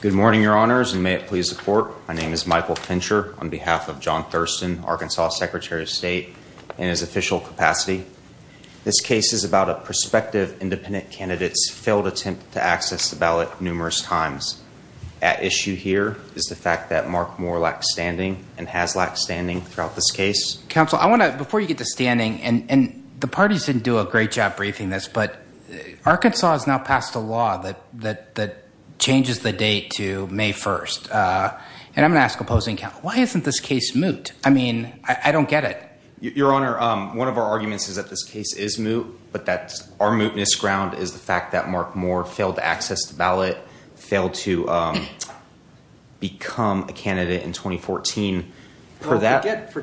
Good morning, your honors, and may it please the court. My name is Michael Fincher on behalf of John Thurston, Arkansas Secretary of State, in his official capacity. This case is about a prospective independent candidate's failed attempt to access the ballot numerous times. At issue here is the fact that Mark Moore lacked standing and has lacked standing throughout this case. Counsel, I want to, before you get to standing, and the parties didn't do a great job briefing this, but Arkansas has now passed a law that changes the date to May 1st. And I'm gonna ask opposing counsel, why isn't this case moot? I mean, I don't get it. Your honor, one of our arguments is that this case is moot, but that our mootness ground is the fact that Mark Moore failed to become a candidate in 2014. For that, the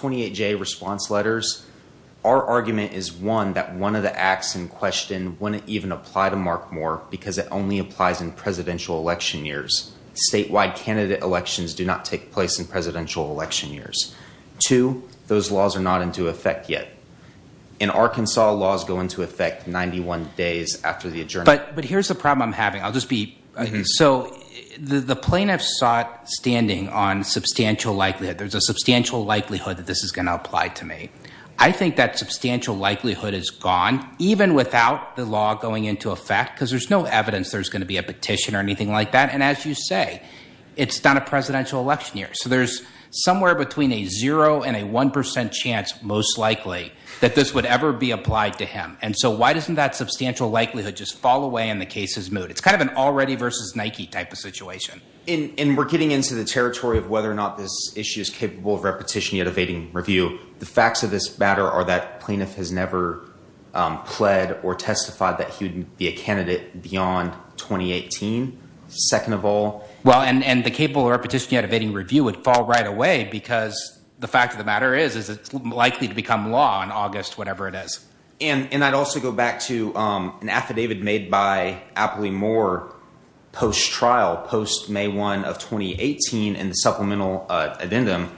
28-J response letters, our argument is, one, that one of the acts in question wouldn't even apply to Mark Moore because it only applies in presidential election years. Statewide candidate elections do not take place in presidential election years. Two, those laws are not into effect yet. In Arkansas, laws go into effect 91 days after the adjournment. But here's the problem I'm having. I'll just be, so the plaintiffs sought standing on substantial likelihood. There's a substantial likelihood that this is going to apply to me. I think that substantial likelihood is gone, even without the law going into effect, because there's no evidence there's going to be a petition or anything like that. And as you say, it's done in presidential election years. So there's somewhere between a zero and a 1% chance, most likely, that this would ever be applied to him. And so why doesn't that substantial likelihood just fall away in the case's moot? It's kind of an already versus Nike type of situation. And we're getting into the territory of whether or not this issue is capable of repetition, yet evading review. The facts of this matter are that plaintiff has never pled or testified that he would be a candidate beyond 2018, second of all. Well, and the capable repetition, yet evading review would fall right away because the fact of the matter is, is it's likely to become law in August, whatever it is. And I'd also go back to an affidavit made by Apley Moore post-trial, post May 1 of 2018, in the supplemental addendum,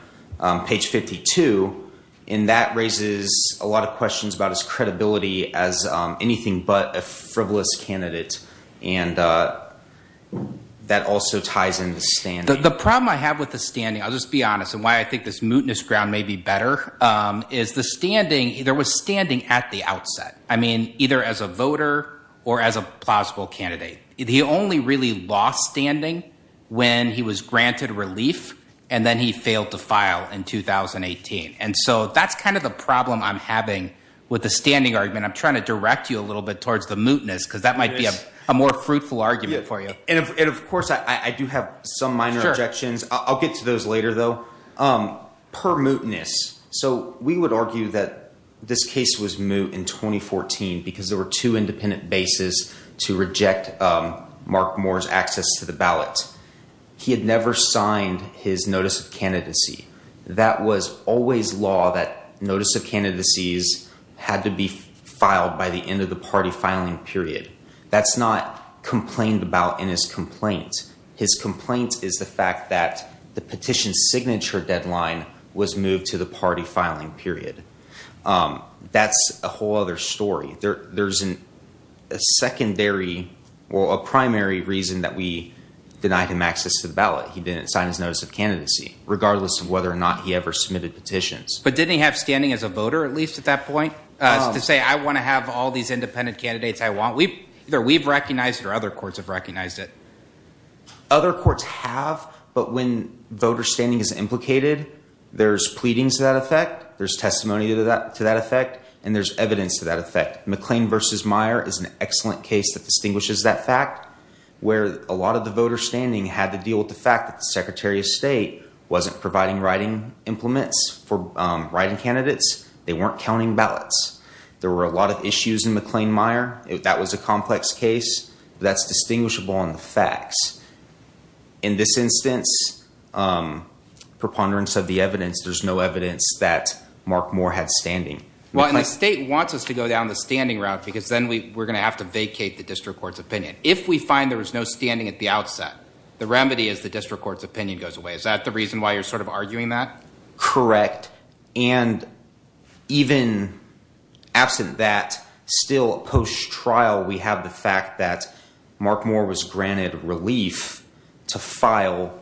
page 52. And that raises a lot of questions about his credibility as anything but a frivolous candidate. And that also ties into standing. The problem I have with the standing, I'll just be honest, and why I think this mootness ground may be better, is the standing, there was standing at the outset, either as a voter or as a plausible candidate. He only really lost standing when he was granted relief, and then he failed to file in 2018. And so that's kind of the problem I'm having with the standing argument. I'm trying to direct you a little bit towards the mootness, because that might be a more fruitful argument for you. And of course, I do have some minor objections. I'll get to those later though. Per mootness, so we would argue that this case was moot in 2014 because there were two independent bases to reject Mark Moore's access to the ballot. He had never signed his notice of candidacy. That was always law that notice of candidacies had to be filed by the end of the party filing period. That's not complained about in his complaint. His complaint is the fact that the petition signature deadline was moved to the party filing period. That's a whole other story. There's a secondary or a primary reason that we ever submitted petitions. But didn't he have standing as a voter, at least at that point, to say, I want to have all these independent candidates I want. Either we've recognized it or other courts have recognized it. Other courts have, but when voter standing is implicated, there's pleadings to that effect. There's testimony to that effect, and there's evidence to that effect. McLean versus Meyer is an excellent case that distinguishes that fact, where a lot of the voter standing had to deal with the fact that the secretary of state wasn't providing writing implements for writing candidates. They weren't counting ballots. There were a lot of issues in McLean-Meyer. That was a complex case. That's distinguishable on the facts. In this instance, preponderance of the evidence, there's no evidence that Mark Moore had standing. Well, and the state wants us to go down the standing route because then we're going to have to vacate the district court's opinion. If we find there was no standing at the outset, the remedy is the district court's opinion goes away. Is that the reason why you're arguing that? Correct. Even absent that, still post-trial, we have the fact that Mark Moore was granted relief to file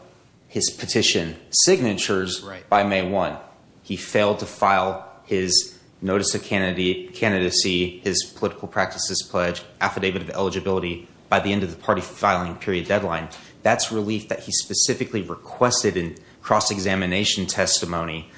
his petition signatures by May 1. He failed to file his notice of candidacy, his political practices pledge, affidavit of eligibility by the end of the party filing period deadline. That's relief that he specifically requested in cross-examination testimony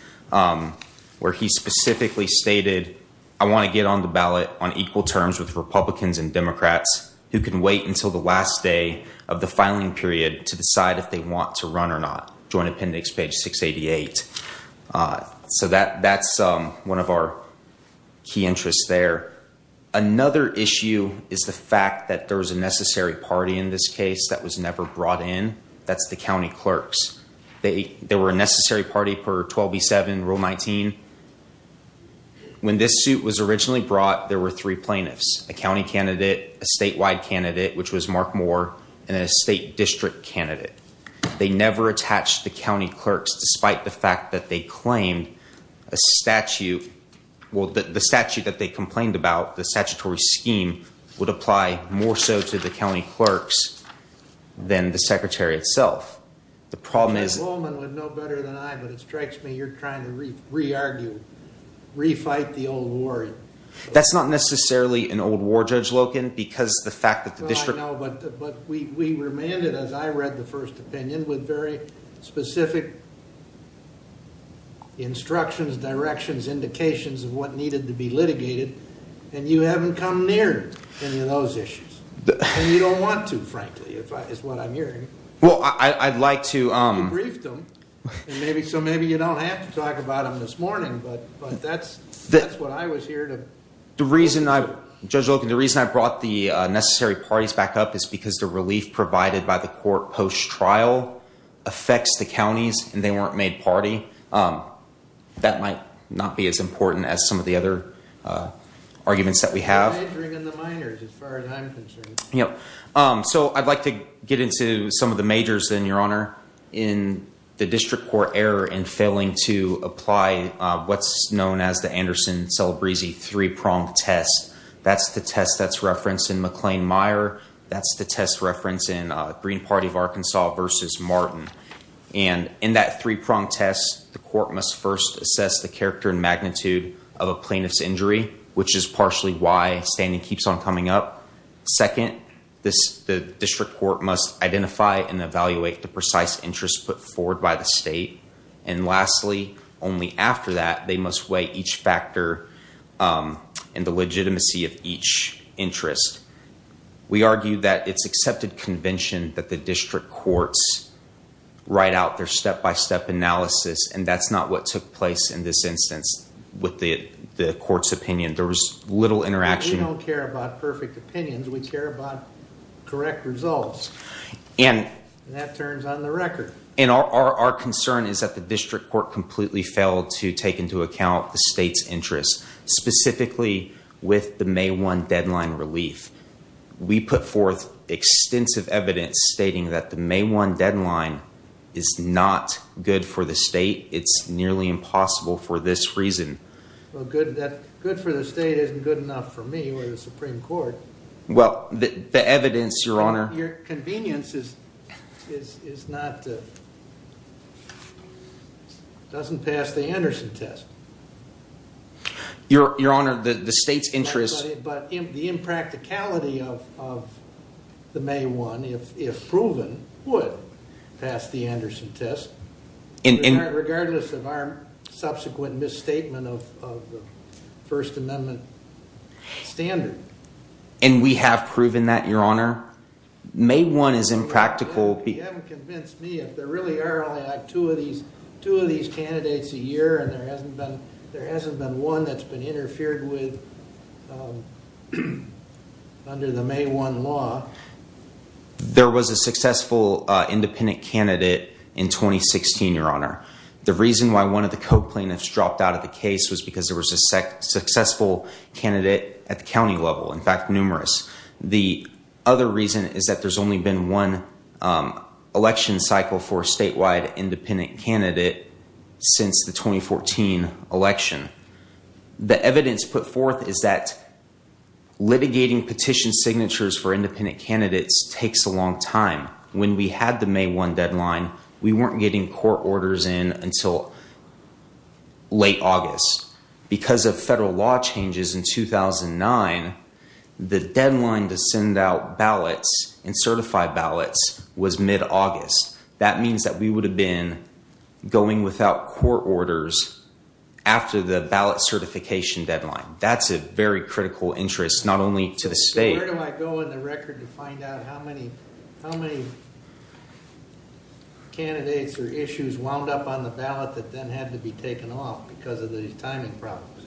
where he specifically stated, I want to get on the ballot on equal terms with Republicans and Democrats who can wait until the last day of the filing period to decide if they want to run or not. Joint appendix, page 688. That's one of our key interests there. Another issue is the fact that there was a necessary party in this case that was never brought in. That's the county clerks. They were a necessary party per 12B7 rule 19. When this suit was originally brought, there were three plaintiffs, a county candidate, a statewide candidate, which was Mark Moore, and a state district candidate. They never attached the county clerks despite the fact that they claimed a statute. Well, the statute that they complained about, the statutory scheme, would apply more so to the county clerks than the secretary itself. The problem is- Judge Lowman would know better than I, but it strikes me you're trying to re-argue, re-fight the old war. That's not necessarily an old war, Judge Loken, because the fact that the district- Well, I know, but we remanded, as I read the first opinion, with very specific instructions, directions, indications of what needed to be litigated, and you haven't come near any of those issues. You don't want to, frankly, is what I'm hearing. Well, I'd like to- You briefed them, so maybe you don't have to talk about them this morning, but that's what I was here to- The reason, Judge Loken, the reason I brought the necessary parties back up is because the weren't made party. That might not be as important as some of the other arguments that we have. They're majoring in the minors, as far as I'm concerned. Yep. So I'd like to get into some of the majors, then, Your Honor, in the district court error in failing to apply what's known as the Anderson-Celebrizzi three-pronged test. That's the test that's referenced in McLean-Meyer. That's the test referenced in Green Party of Arkansas versus Martin. In that three-pronged test, the court must first assess the character and magnitude of a plaintiff's injury, which is partially why standing keeps on coming up. Second, the district court must identify and evaluate the precise interest put forward by the state. Lastly, only after that, they must weigh each factor and the legitimacy of each court's write-out, their step-by-step analysis. That's not what took place in this instance with the court's opinion. There was little interaction. We don't care about perfect opinions. We care about correct results. That turns on the record. Our concern is that the district court completely failed to take into account the state's interest, specifically with the May 1 deadline relief. We put forth extensive evidence stating that May 1 deadline is not good for the state. It's nearly impossible for this reason. Well, good for the state isn't good enough for me or the Supreme Court. Well, the evidence, Your Honor— Your convenience is not—doesn't pass the Anderson test. Your Honor, the state's interest— The impracticality of the May 1, if proven, would pass the Anderson test, regardless of our subsequent misstatement of the First Amendment standard. We have proven that, Your Honor. May 1 is impractical— You haven't convinced me. If there really are only two of these candidates a year, there hasn't been one that's been interfered with under the May 1 law. There was a successful independent candidate in 2016, Your Honor. The reason why one of the co-plaintiffs dropped out of the case was because there was a successful candidate at the county level, in fact, numerous. The other reason is that there's only been one election cycle for the 2014 election. The evidence put forth is that litigating petition signatures for independent candidates takes a long time. When we had the May 1 deadline, we weren't getting court orders in until late August. Because of federal law changes in 2009, the deadline to send out ballots and certify ballots was mid-August. That means that we would have been going without court orders after the ballot certification deadline. That's a very critical interest, not only to the state— Where do I go in the record to find out how many candidates or issues wound up on the ballot that then had to be taken off because of the timing problems?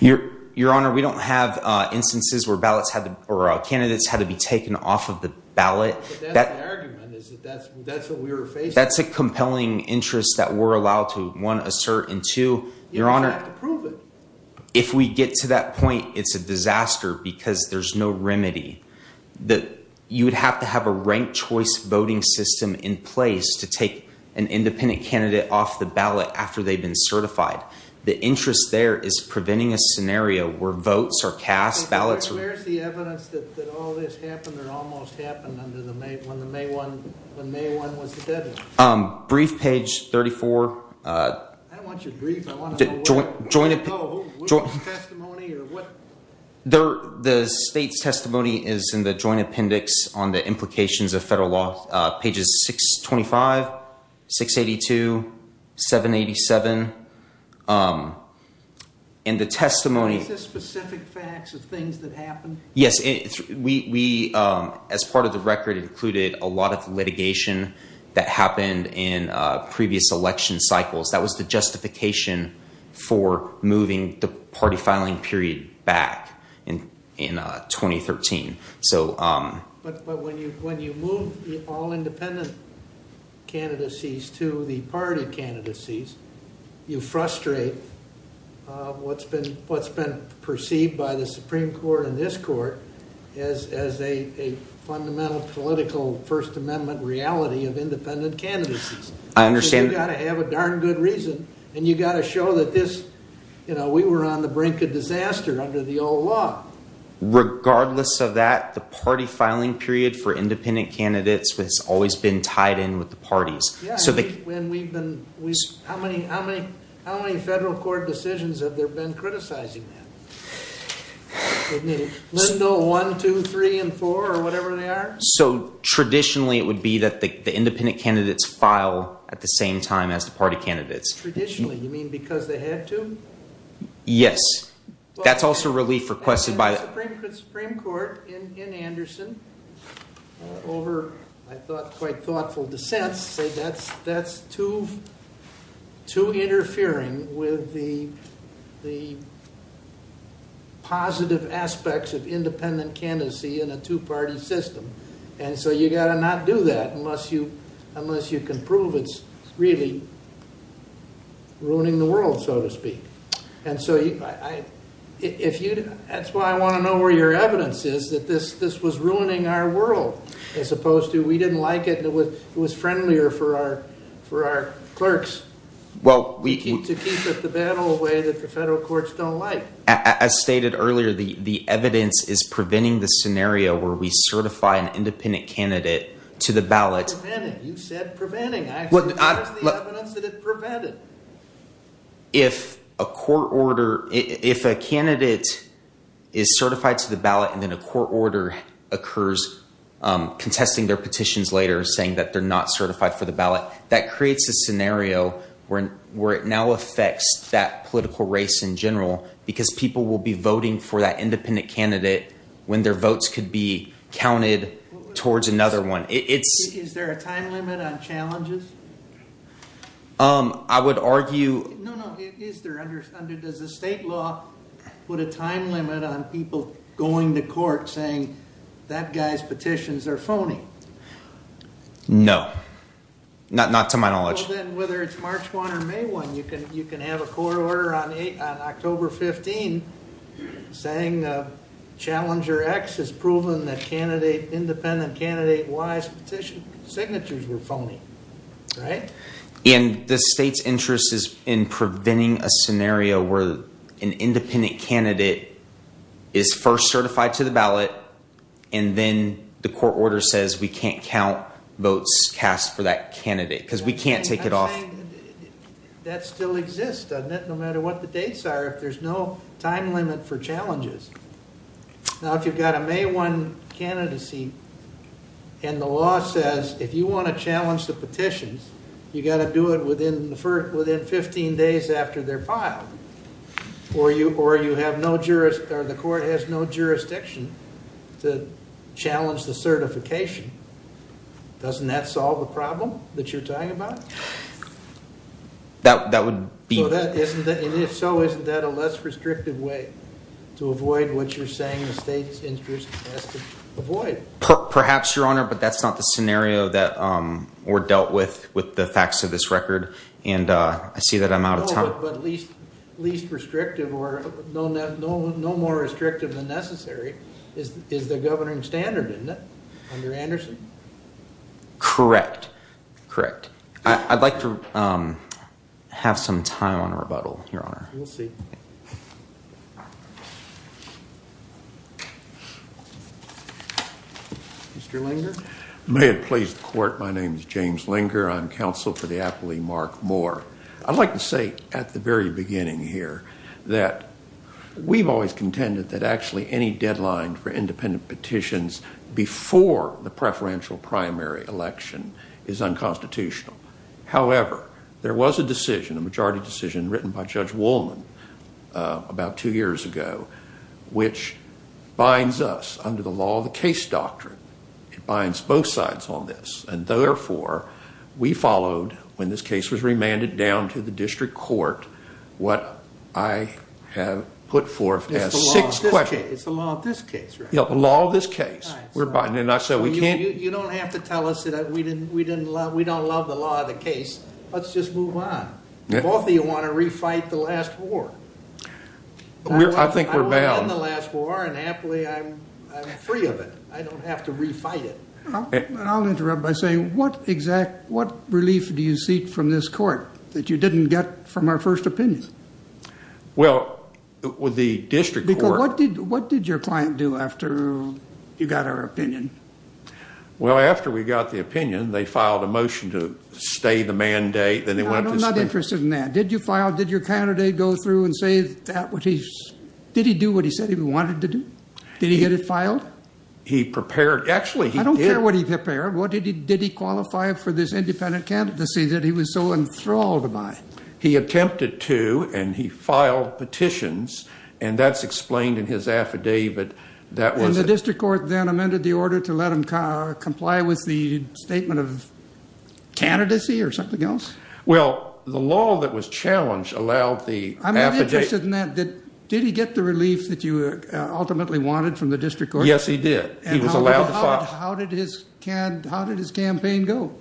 Your Honor, we don't have instances where candidates had to be taken off the ballot. That's a compelling interest that we're allowed to assert. If we get to that point, it's a disaster because there's no remedy. You would have to have a ranked choice voting system in place to take an independent candidate off the ballot after they've been certified. The interest there is preventing a scenario where votes are cast. Where's the evidence that all this happened or almost happened when May 1 was the deadline? The state's testimony is in the Joint Appendix on the implications of federal law, pages 625, 682, 787. Is this specific facts of things that happened? Yes. As part of the record, it included a lot of litigation that happened in previous election cycles. That was the justification for moving the party filing period back in 2013. But when you move all independent candidacies to the party candidacies, you frustrate what's been perceived by the Supreme Court and this court as a fundamental political First Amendment reality of independent candidacies. You got to have a darn good reason and you got to show that we were on the brink of disaster under the old law. Regardless of that, the party filing period for independent candidates has always been tied in with the parties. How many federal court decisions have there been criticizing that? Lindo 1, 2, 3, and 4 or whatever they are? So traditionally, it would be that the independent candidates file at the same time as the party candidates. Traditionally, you mean because they had to? Yes. That's also relief requested by the Supreme Court in Anderson over, I thought, quite thoughtful dissents say that's too interfering with the positive aspects of independent candidacy in a two-party system. You got to not do that unless you can prove it's really ruining the world, so to speak. That's why I want to know where your evidence is that this was ruining our world as opposed to we didn't like it and it was friendlier for our clerks to keep it the bad old way that the federal courts don't like. As stated earlier, the evidence is preventing the scenario where we certify an independent candidate to the ballot. If a candidate is certified to the ballot and then a court order occurs contesting their petitions later saying that they're not certified for the ballot, that creates a scenario where it now affects that political race in general because people will be Is there a time limit on challenges? I would argue... Does the state law put a time limit on people going to court saying that guy's petitions are phony? No. Not to my knowledge. Whether it's March 1 or May 1, you can have a court order on October 15 saying challenger X has proven that independent candidate Y's petition signatures were phony. The state's interest is in preventing a scenario where an independent candidate is first certified to the ballot and then the court order says we can't count votes cast for that candidate because we can't take it off. That still exists no matter what the dates are if there's no time limit for challenges. Now if you've got a May 1 candidacy and the law says if you want to challenge the petitions, you got to do it within 15 days after they're filed or the court has no jurisdiction to challenge the certification. Doesn't that solve the problem that you're talking about? That would be... So isn't that a less restrictive way to avoid what you're saying the state's interest has to avoid? Perhaps, Your Honor, but that's not the scenario that we're dealt with with the facts of this record and I see that I'm out of time. But least restrictive or no more restrictive than necessary is the governing standard, isn't it, under Anderson? Correct, correct. I'd like to have some time on a rebuttal, Your Honor. We'll see. Mr. Linger? May it please the court, my name is James Linger. I'm counsel for the apply Mark Moore. I'd like to say at the very beginning here that we've always contended that actually any deadline for independent petitions before the preferential primary election is unconstitutional. However, there was a decision, a majority decision written by Judge Woolman about two years ago, which binds us under the law of the case doctrine. It binds both sides on this and therefore we followed when this case was remanded down to the district court what I have put forth as six questions... It's the law of this case, right? Yeah, the law of this case. You don't have to tell us that we don't love the law of the case. Let's just move on. Both of you want to refight the last war. I think we're bound. I want to end the last war and happily I'm free of it. I don't have to refight it. I'll interrupt by saying what relief do you seek from this court that you didn't get from our first opinion? Well, with the district court... What did your client do after you got our opinion? Well, after we got the opinion, they filed a motion to stay the mandate. No, I'm not interested in that. Did you file? Did your candidate go through and say that what he... Did he do what he said he wanted to do? Did he get it filed? He prepared... Actually, he did... I don't care what he prepared. What did he... Did he qualify for this independent candidacy that he was so enthralled by? He attempted to and he filed petitions and that's explained in his affidavit that was... And the district court then amended the order to let him comply with the statement of candidacy or something else? Well, the law that was challenged allowed the affidavit... I'm not interested in that. Did he get the relief that you ultimately wanted from the district court? Yes, he did. He was allowed to file. How did his campaign go?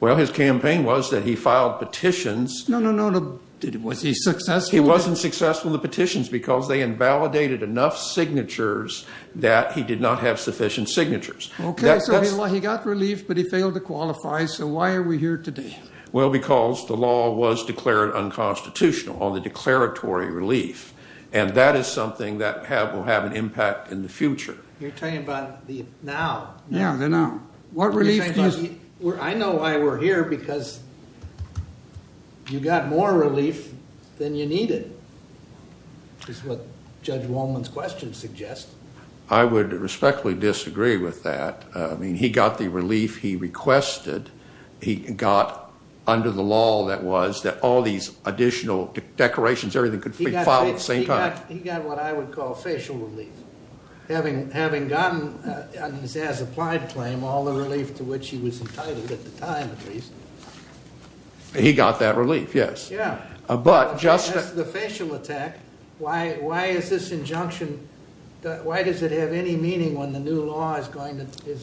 Well, his campaign was that he filed petitions... No, no, no. Was he successful? He wasn't successful in the petitions because they invalidated enough signatures that he did not have sufficient signatures. Okay, so he got relief but he failed to qualify. So why are we here today? Well, because the law was declared unconstitutional on the declaratory relief and that is something that will have an impact in the future. You're talking about the now. Yeah, the now. What relief do you... You got more relief than you needed, is what Judge Wolman's question suggests. I would respectfully disagree with that. I mean, he got the relief he requested. He got, under the law that was, that all these additional decorations, everything could be filed at the same time. He got what I would call facial relief. Having gotten on his as-applied claim all the relief to which he was entitled at the time, at least. He got that relief, yes. Yeah, that's the facial attack. Why is this injunction... Why does it have any meaning when the new law is going to...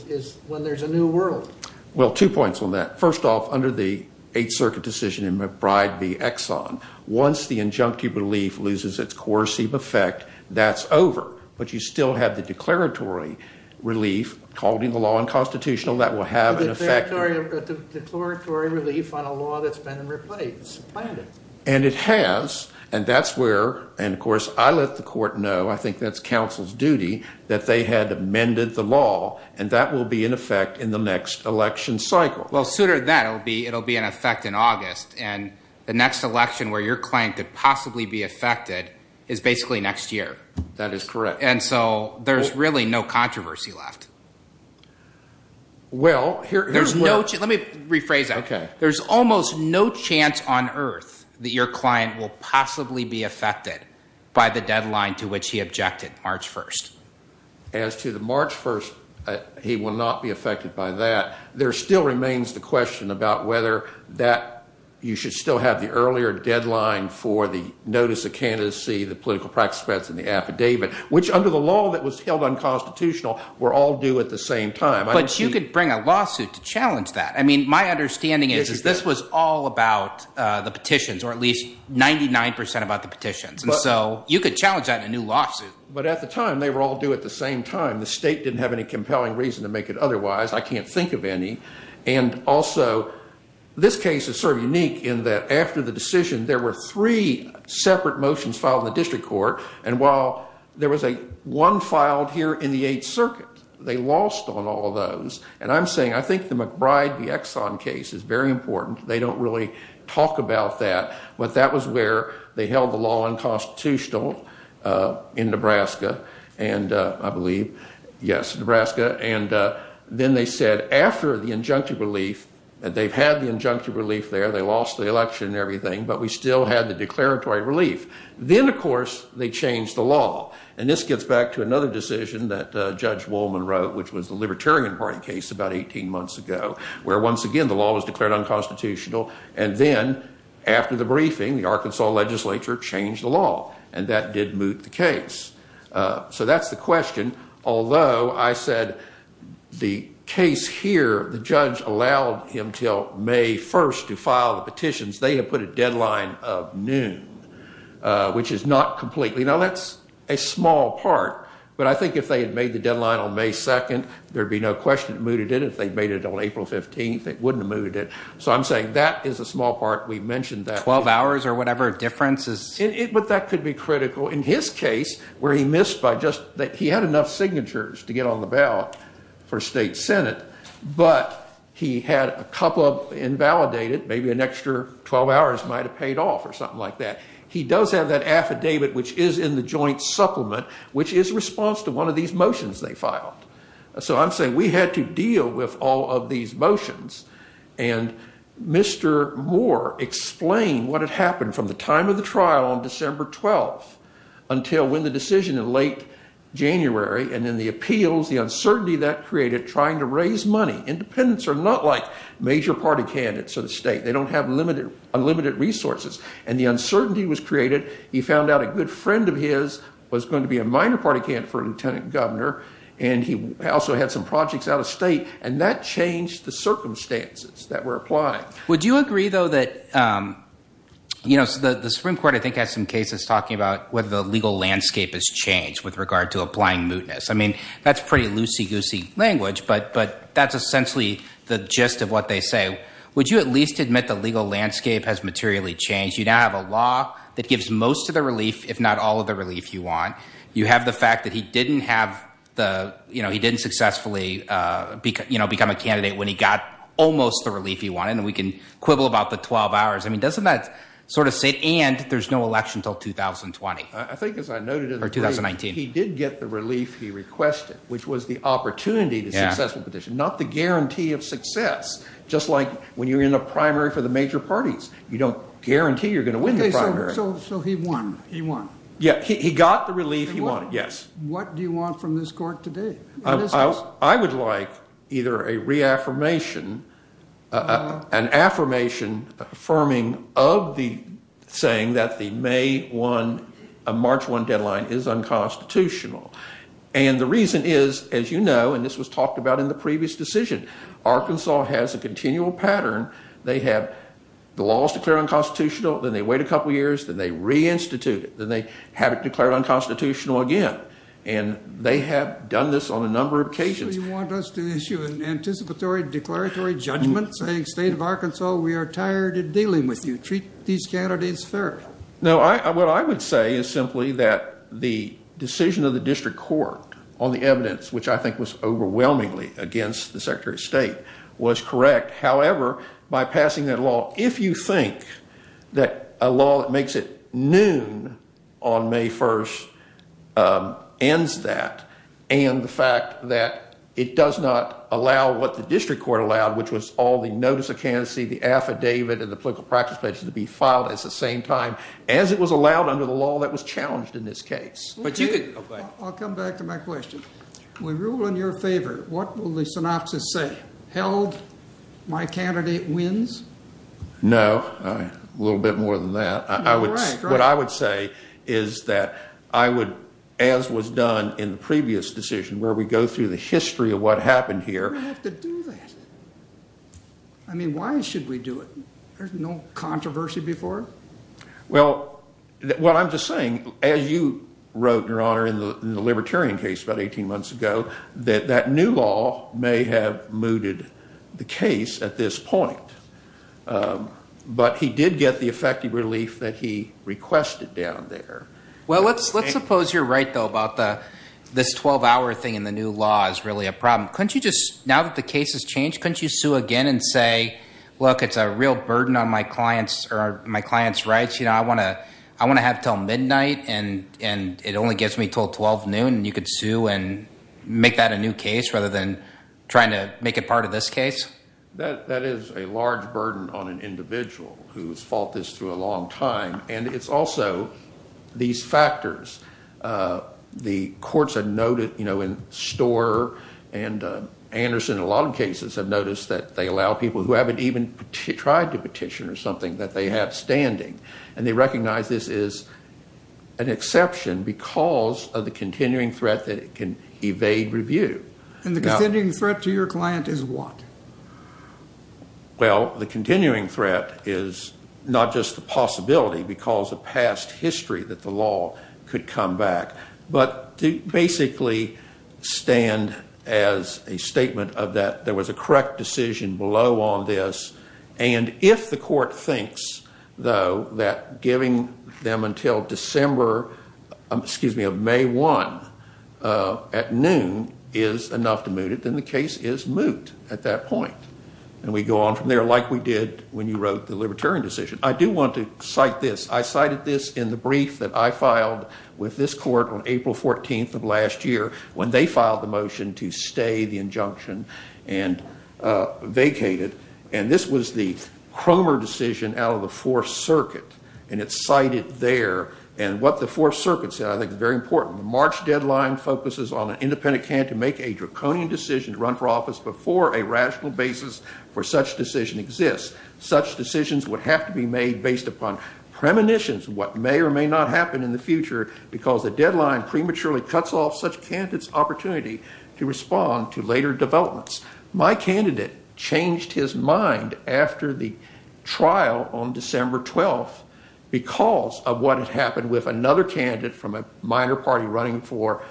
When there's a new world? Well, two points on that. First off, under the Eighth Circuit decision in McBride v. Exxon, once the injunctive relief loses its coercive effect, that's over. But you still have the declaratory relief, called in the law unconstitutional, that will have an effect. Declaratory relief on a law that's been replaced, supplanted. And it has. And that's where, and of course, I let the court know, I think that's counsel's duty, that they had amended the law. And that will be in effect in the next election cycle. Well, sooner than that, it'll be in effect in August. And the next election where you're claiming to possibly be affected is basically next year. That is correct. And so there's really no controversy left. Well, here's where... There's no... Let me rephrase that. Okay. There's almost no chance on earth that your client will possibly be affected by the deadline to which he objected, March 1st. As to the March 1st, he will not be affected by that. There still remains the question about whether that... You should still have the earlier deadline for the notice of candidacy, the political practice threats, and the affidavit, which under the law that was held unconstitutional were all due at the same time. But you could bring a lawsuit to challenge that. I mean, my understanding is, is this was all about the petitions or at least 99% about the petitions. And so you could challenge that in a new lawsuit. But at the time, they were all due at the same time. The state didn't have any compelling reason to make it otherwise. I can't think of any. And also, this case is sort of unique in that after the decision, there were three separate motions filed in the district court. And while there was one filed here in the Eighth Circuit, they lost on all of those. And I'm saying, I think the McBride v. Exxon case is very important. They don't really talk about that. But that was where they held the law unconstitutional in Nebraska. And I believe, yes, Nebraska. And then they said after the injunctive relief, they've had the injunctive relief there, they lost the election and everything, but we still had the declaratory relief. Then, of course, they changed the law. And this gets back to another decision that Judge Wolman wrote, which was the Libertarian Party case about 18 months ago, where once again, the law was declared unconstitutional. And then after the briefing, the Arkansas legislature changed the law. And that did moot the case. So that's the question. Although I said the case here, the judge allowed him till May 1st to file the petitions. They had put a deadline of noon. Which is not completely... Now, that's a small part. But I think if they had made the deadline on May 2nd, there'd be no question it mooted it. If they'd made it on April 15th, it wouldn't have mooted it. So I'm saying that is a small part. We mentioned that. 12 hours or whatever difference is... But that could be critical. In his case, where he missed by just... He had enough signatures to get on the ballot for state senate, but he had a couple of invalidated, maybe an extra 12 hours might have paid off or something like that. He does have that affidavit, which is in the joint supplement, which is response to one of these motions they filed. So I'm saying we had to deal with all of these motions. And Mr. Moore explained what had happened from the time of the trial on December 12th until when the decision in late January. And then the appeals, the uncertainty that created trying to raise money. Independents are not like major party candidates of the state. They don't have unlimited resources. And the uncertainty was created. He found out a good friend of his was going to be a minor party candidate for lieutenant governor. And he also had some projects out of state. And that changed the circumstances that were applied. Would you agree, though, that... The Supreme Court, I think, has some cases talking about whether the legal landscape has changed with regard to applying mootness. I mean, that's pretty loosey-goosey language, but that's essentially the gist of what they say. Would you at least admit the legal landscape has materially changed? You now have a law that gives most of the relief, if not all of the relief you want. You have the fact that he didn't have the... He didn't successfully become a candidate when he got almost the relief he wanted. And we can quibble about the 12 hours. I mean, doesn't that sort of say... And there's no election till 2020. I think, as I noted in the brief, he did get the relief he requested, which was the opportunity to successful petition, not the guarantee of success. Just like when you're in a primary for the major parties. You don't guarantee you're going to win the primary. So he won. He won. Yeah, he got the relief he wanted, yes. What do you want from this court today? I would like either a reaffirmation, an affirmation affirming of the saying that the May 1, March 1 deadline is unconstitutional. And the reason is, as you know, and this was talked about in the previous decision, Arkansas has a continual pattern. They have the laws declared unconstitutional. Then they wait a couple of years. Then they reinstitute it. Then they have it declared unconstitutional again. And they have done this on a number of occasions. So you want us to issue an anticipatory declaratory judgment saying, State of Arkansas, we are tired of dealing with you. Treat these candidates fair. No, what I would say is simply that the decision of the district court on the evidence, which I think was overwhelmingly against the Secretary of State, was correct. However, by passing that law, if you think that a law that makes it noon on May 1 ends that, and the fact that it does not allow what the district court allowed, which was all the notice of candidacy, the affidavit, and the political practice pledge to be filed at the same time as it was allowed under the law that was challenged in this case. I'll come back to my question. We rule in your favor. What will the synopsis say? Held my candidate wins? No, a little bit more than that. What I would say is that I would, as was done in the previous decision where we go through the history of what happened here. We have to do that. I mean, why should we do it? Well, what I'm just saying, as you wrote, Your Honor, in the Libertarian case about 18 months ago, that that new law may have mooted the case at this point. But he did get the effective relief that he requested down there. Well, let's suppose you're right, though, about this 12-hour thing in the new law is really a problem. Couldn't you just, now that the case has changed, couldn't you sue again and say, look, it's a real burden on my client's rights. You know, I want to have it till midnight, and it only gets me till 12 noon, and you could sue and make that a new case rather than trying to make it part of this case? That is a large burden on an individual who has fought this through a long time. And it's also these factors. The courts have noted, you know, in Storer and Anderson, a lot of cases have noticed that they allow people who haven't even tried to petition or something that they have standing. And they recognize this is an exception because of the continuing threat that it can evade review. And the continuing threat to your client is what? Well, the continuing threat is not just the possibility because of past history that the law could come back, but to basically stand as a statement of that there was a correct decision below on this. And if the court thinks, though, that giving them until December, excuse me, of May 1 at noon is enough to moot it, then the case is moot at that point. And we go on from there like we did when you wrote the Libertarian decision. I do want to cite this. I cited this in the brief that I filed with this court on April 14th of last year when they filed the motion to stay the injunction and vacate it. And this was the Cromer decision out of the Fourth Circuit. And it's cited there. And what the Fourth Circuit said I think is very important. The March deadline focuses on an independent can to make a draconian decision to run for office before a rational basis for such decision exists. Such decisions would have to be made based upon premonitions of what may or may not happen in the future because the deadline prematurely cuts off such candidates' opportunity to respond to later developments. My candidate changed his mind after the trial on December 12th because of what had happened with another candidate from a minor party running for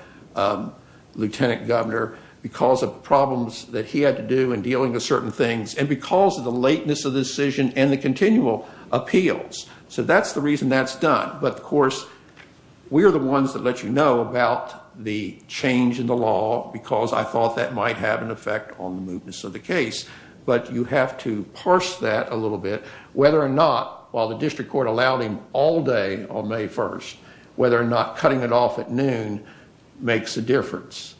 lieutenant governor because of problems that he had to do in dealing with certain things and because of the lateness of the decision and the continual appeals. So that's the reason that's done. But of course, we are the ones that let you know about the change in the law because I thought that might have an effect on the movements of the case. But you have to parse that a little bit, whether or not while the district court allowed him all day on May 1st, whether or not cutting it off at noon makes a difference.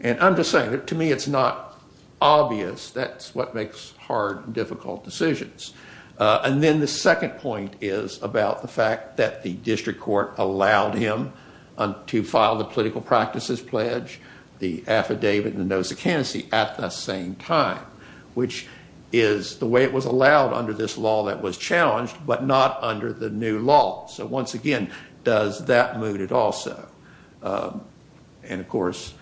And I'm just saying that to me, it's not obvious. That's what makes hard, difficult decisions. And then the second point is about the fact that the district court allowed him to file the political practices pledge, the affidavit and the notice of candidacy at the same time, which is the way it was allowed under this law that was challenged, but not under the new law. So once again, does that mood it also? And of course,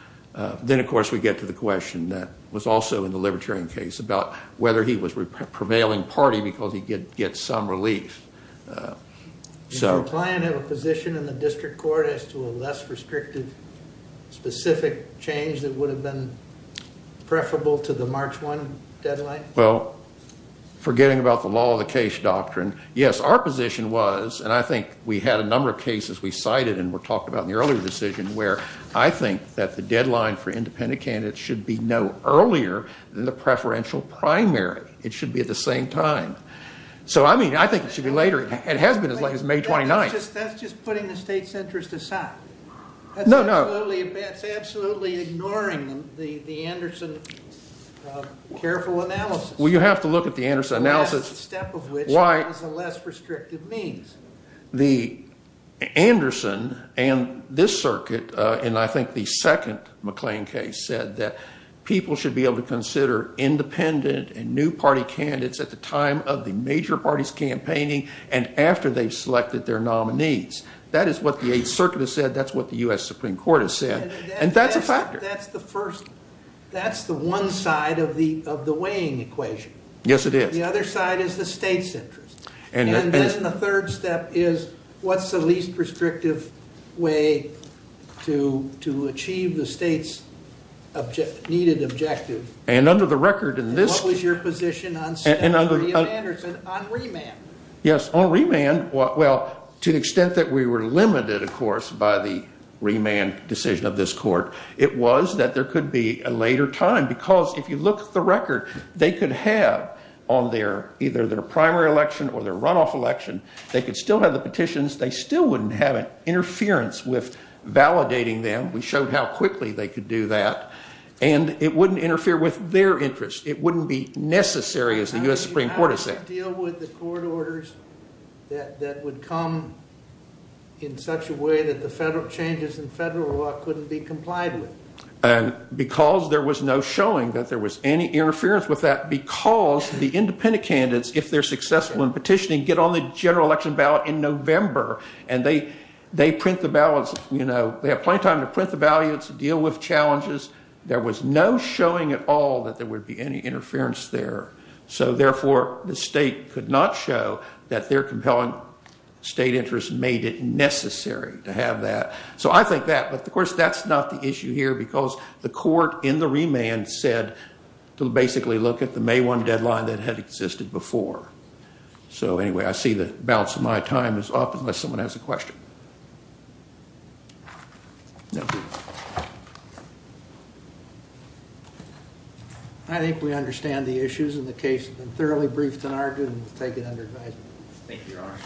then of course, we get to the question that was also in the libertarian case about whether he was prevailing party because he did get some relief. So- Does your client have a position in the district court as to a less restrictive specific change that would have been preferable to the March 1 deadline? Well, forgetting about the law of the case doctrine, yes, our position was, and I think we had a number of cases we cited and were talked about in the earlier decision, where I think that the deadline for independent candidates should be no earlier than the preferential primary. It should be at the same time. So I mean, I think it should be later. It has been as late as May 29th. That's just putting the state's interest aside. No, no. It's absolutely ignoring the Anderson careful analysis. Well, you have to look at the Anderson analysis. The last step of which was a less restrictive means. The Anderson and this circuit, and I think the second McLean case said that people should be able to consider independent and new party candidates at the time of the major parties campaigning and after they've selected their nominees. That is what the Eighth Circuit has said. That's what the U.S. Supreme Court has said. And that's a factor. That's the first. That's the one side of the weighing equation. Yes, it is. The other side is the state's interest. And then the third step is, what's the least restrictive way to achieve the state's needed objective? And under the record in this- What was your position on Anderson on remand? Yes, on remand. Well, to the extent that we were limited, of course, by the remand decision of this court, it was that there could be a later time. Because if you look at the record, they could have on either their primary election or their runoff election, they could still have the petitions. They still wouldn't have an interference with validating them. We showed how quickly they could do that. And it wouldn't interfere with their interest. It wouldn't be necessary, as the U.S. Supreme Court has said. How did you deal with the court orders that would come in such a way that the federal changes in federal law couldn't be complied with? Because there was no showing that there was any interference with that. Because the independent candidates, if they're successful in petitioning, get on the general election ballot in November. And they print the ballots. They have plenty of time to print the ballots, deal with challenges. There was no showing at all that there would be any interference there. So therefore, the state could not show that their compelling state interest made it necessary to have that. So I think that. But of course, that's not the issue here because the court in the remand said to basically look at the May 1 deadline that had existed before. So anyway, I see the bounce of my time is off unless someone has a question. No. Thank you. I think we understand the issues in the case. It's been thoroughly briefed and argued. We'll take it under advisement. Thank you, Your Honor.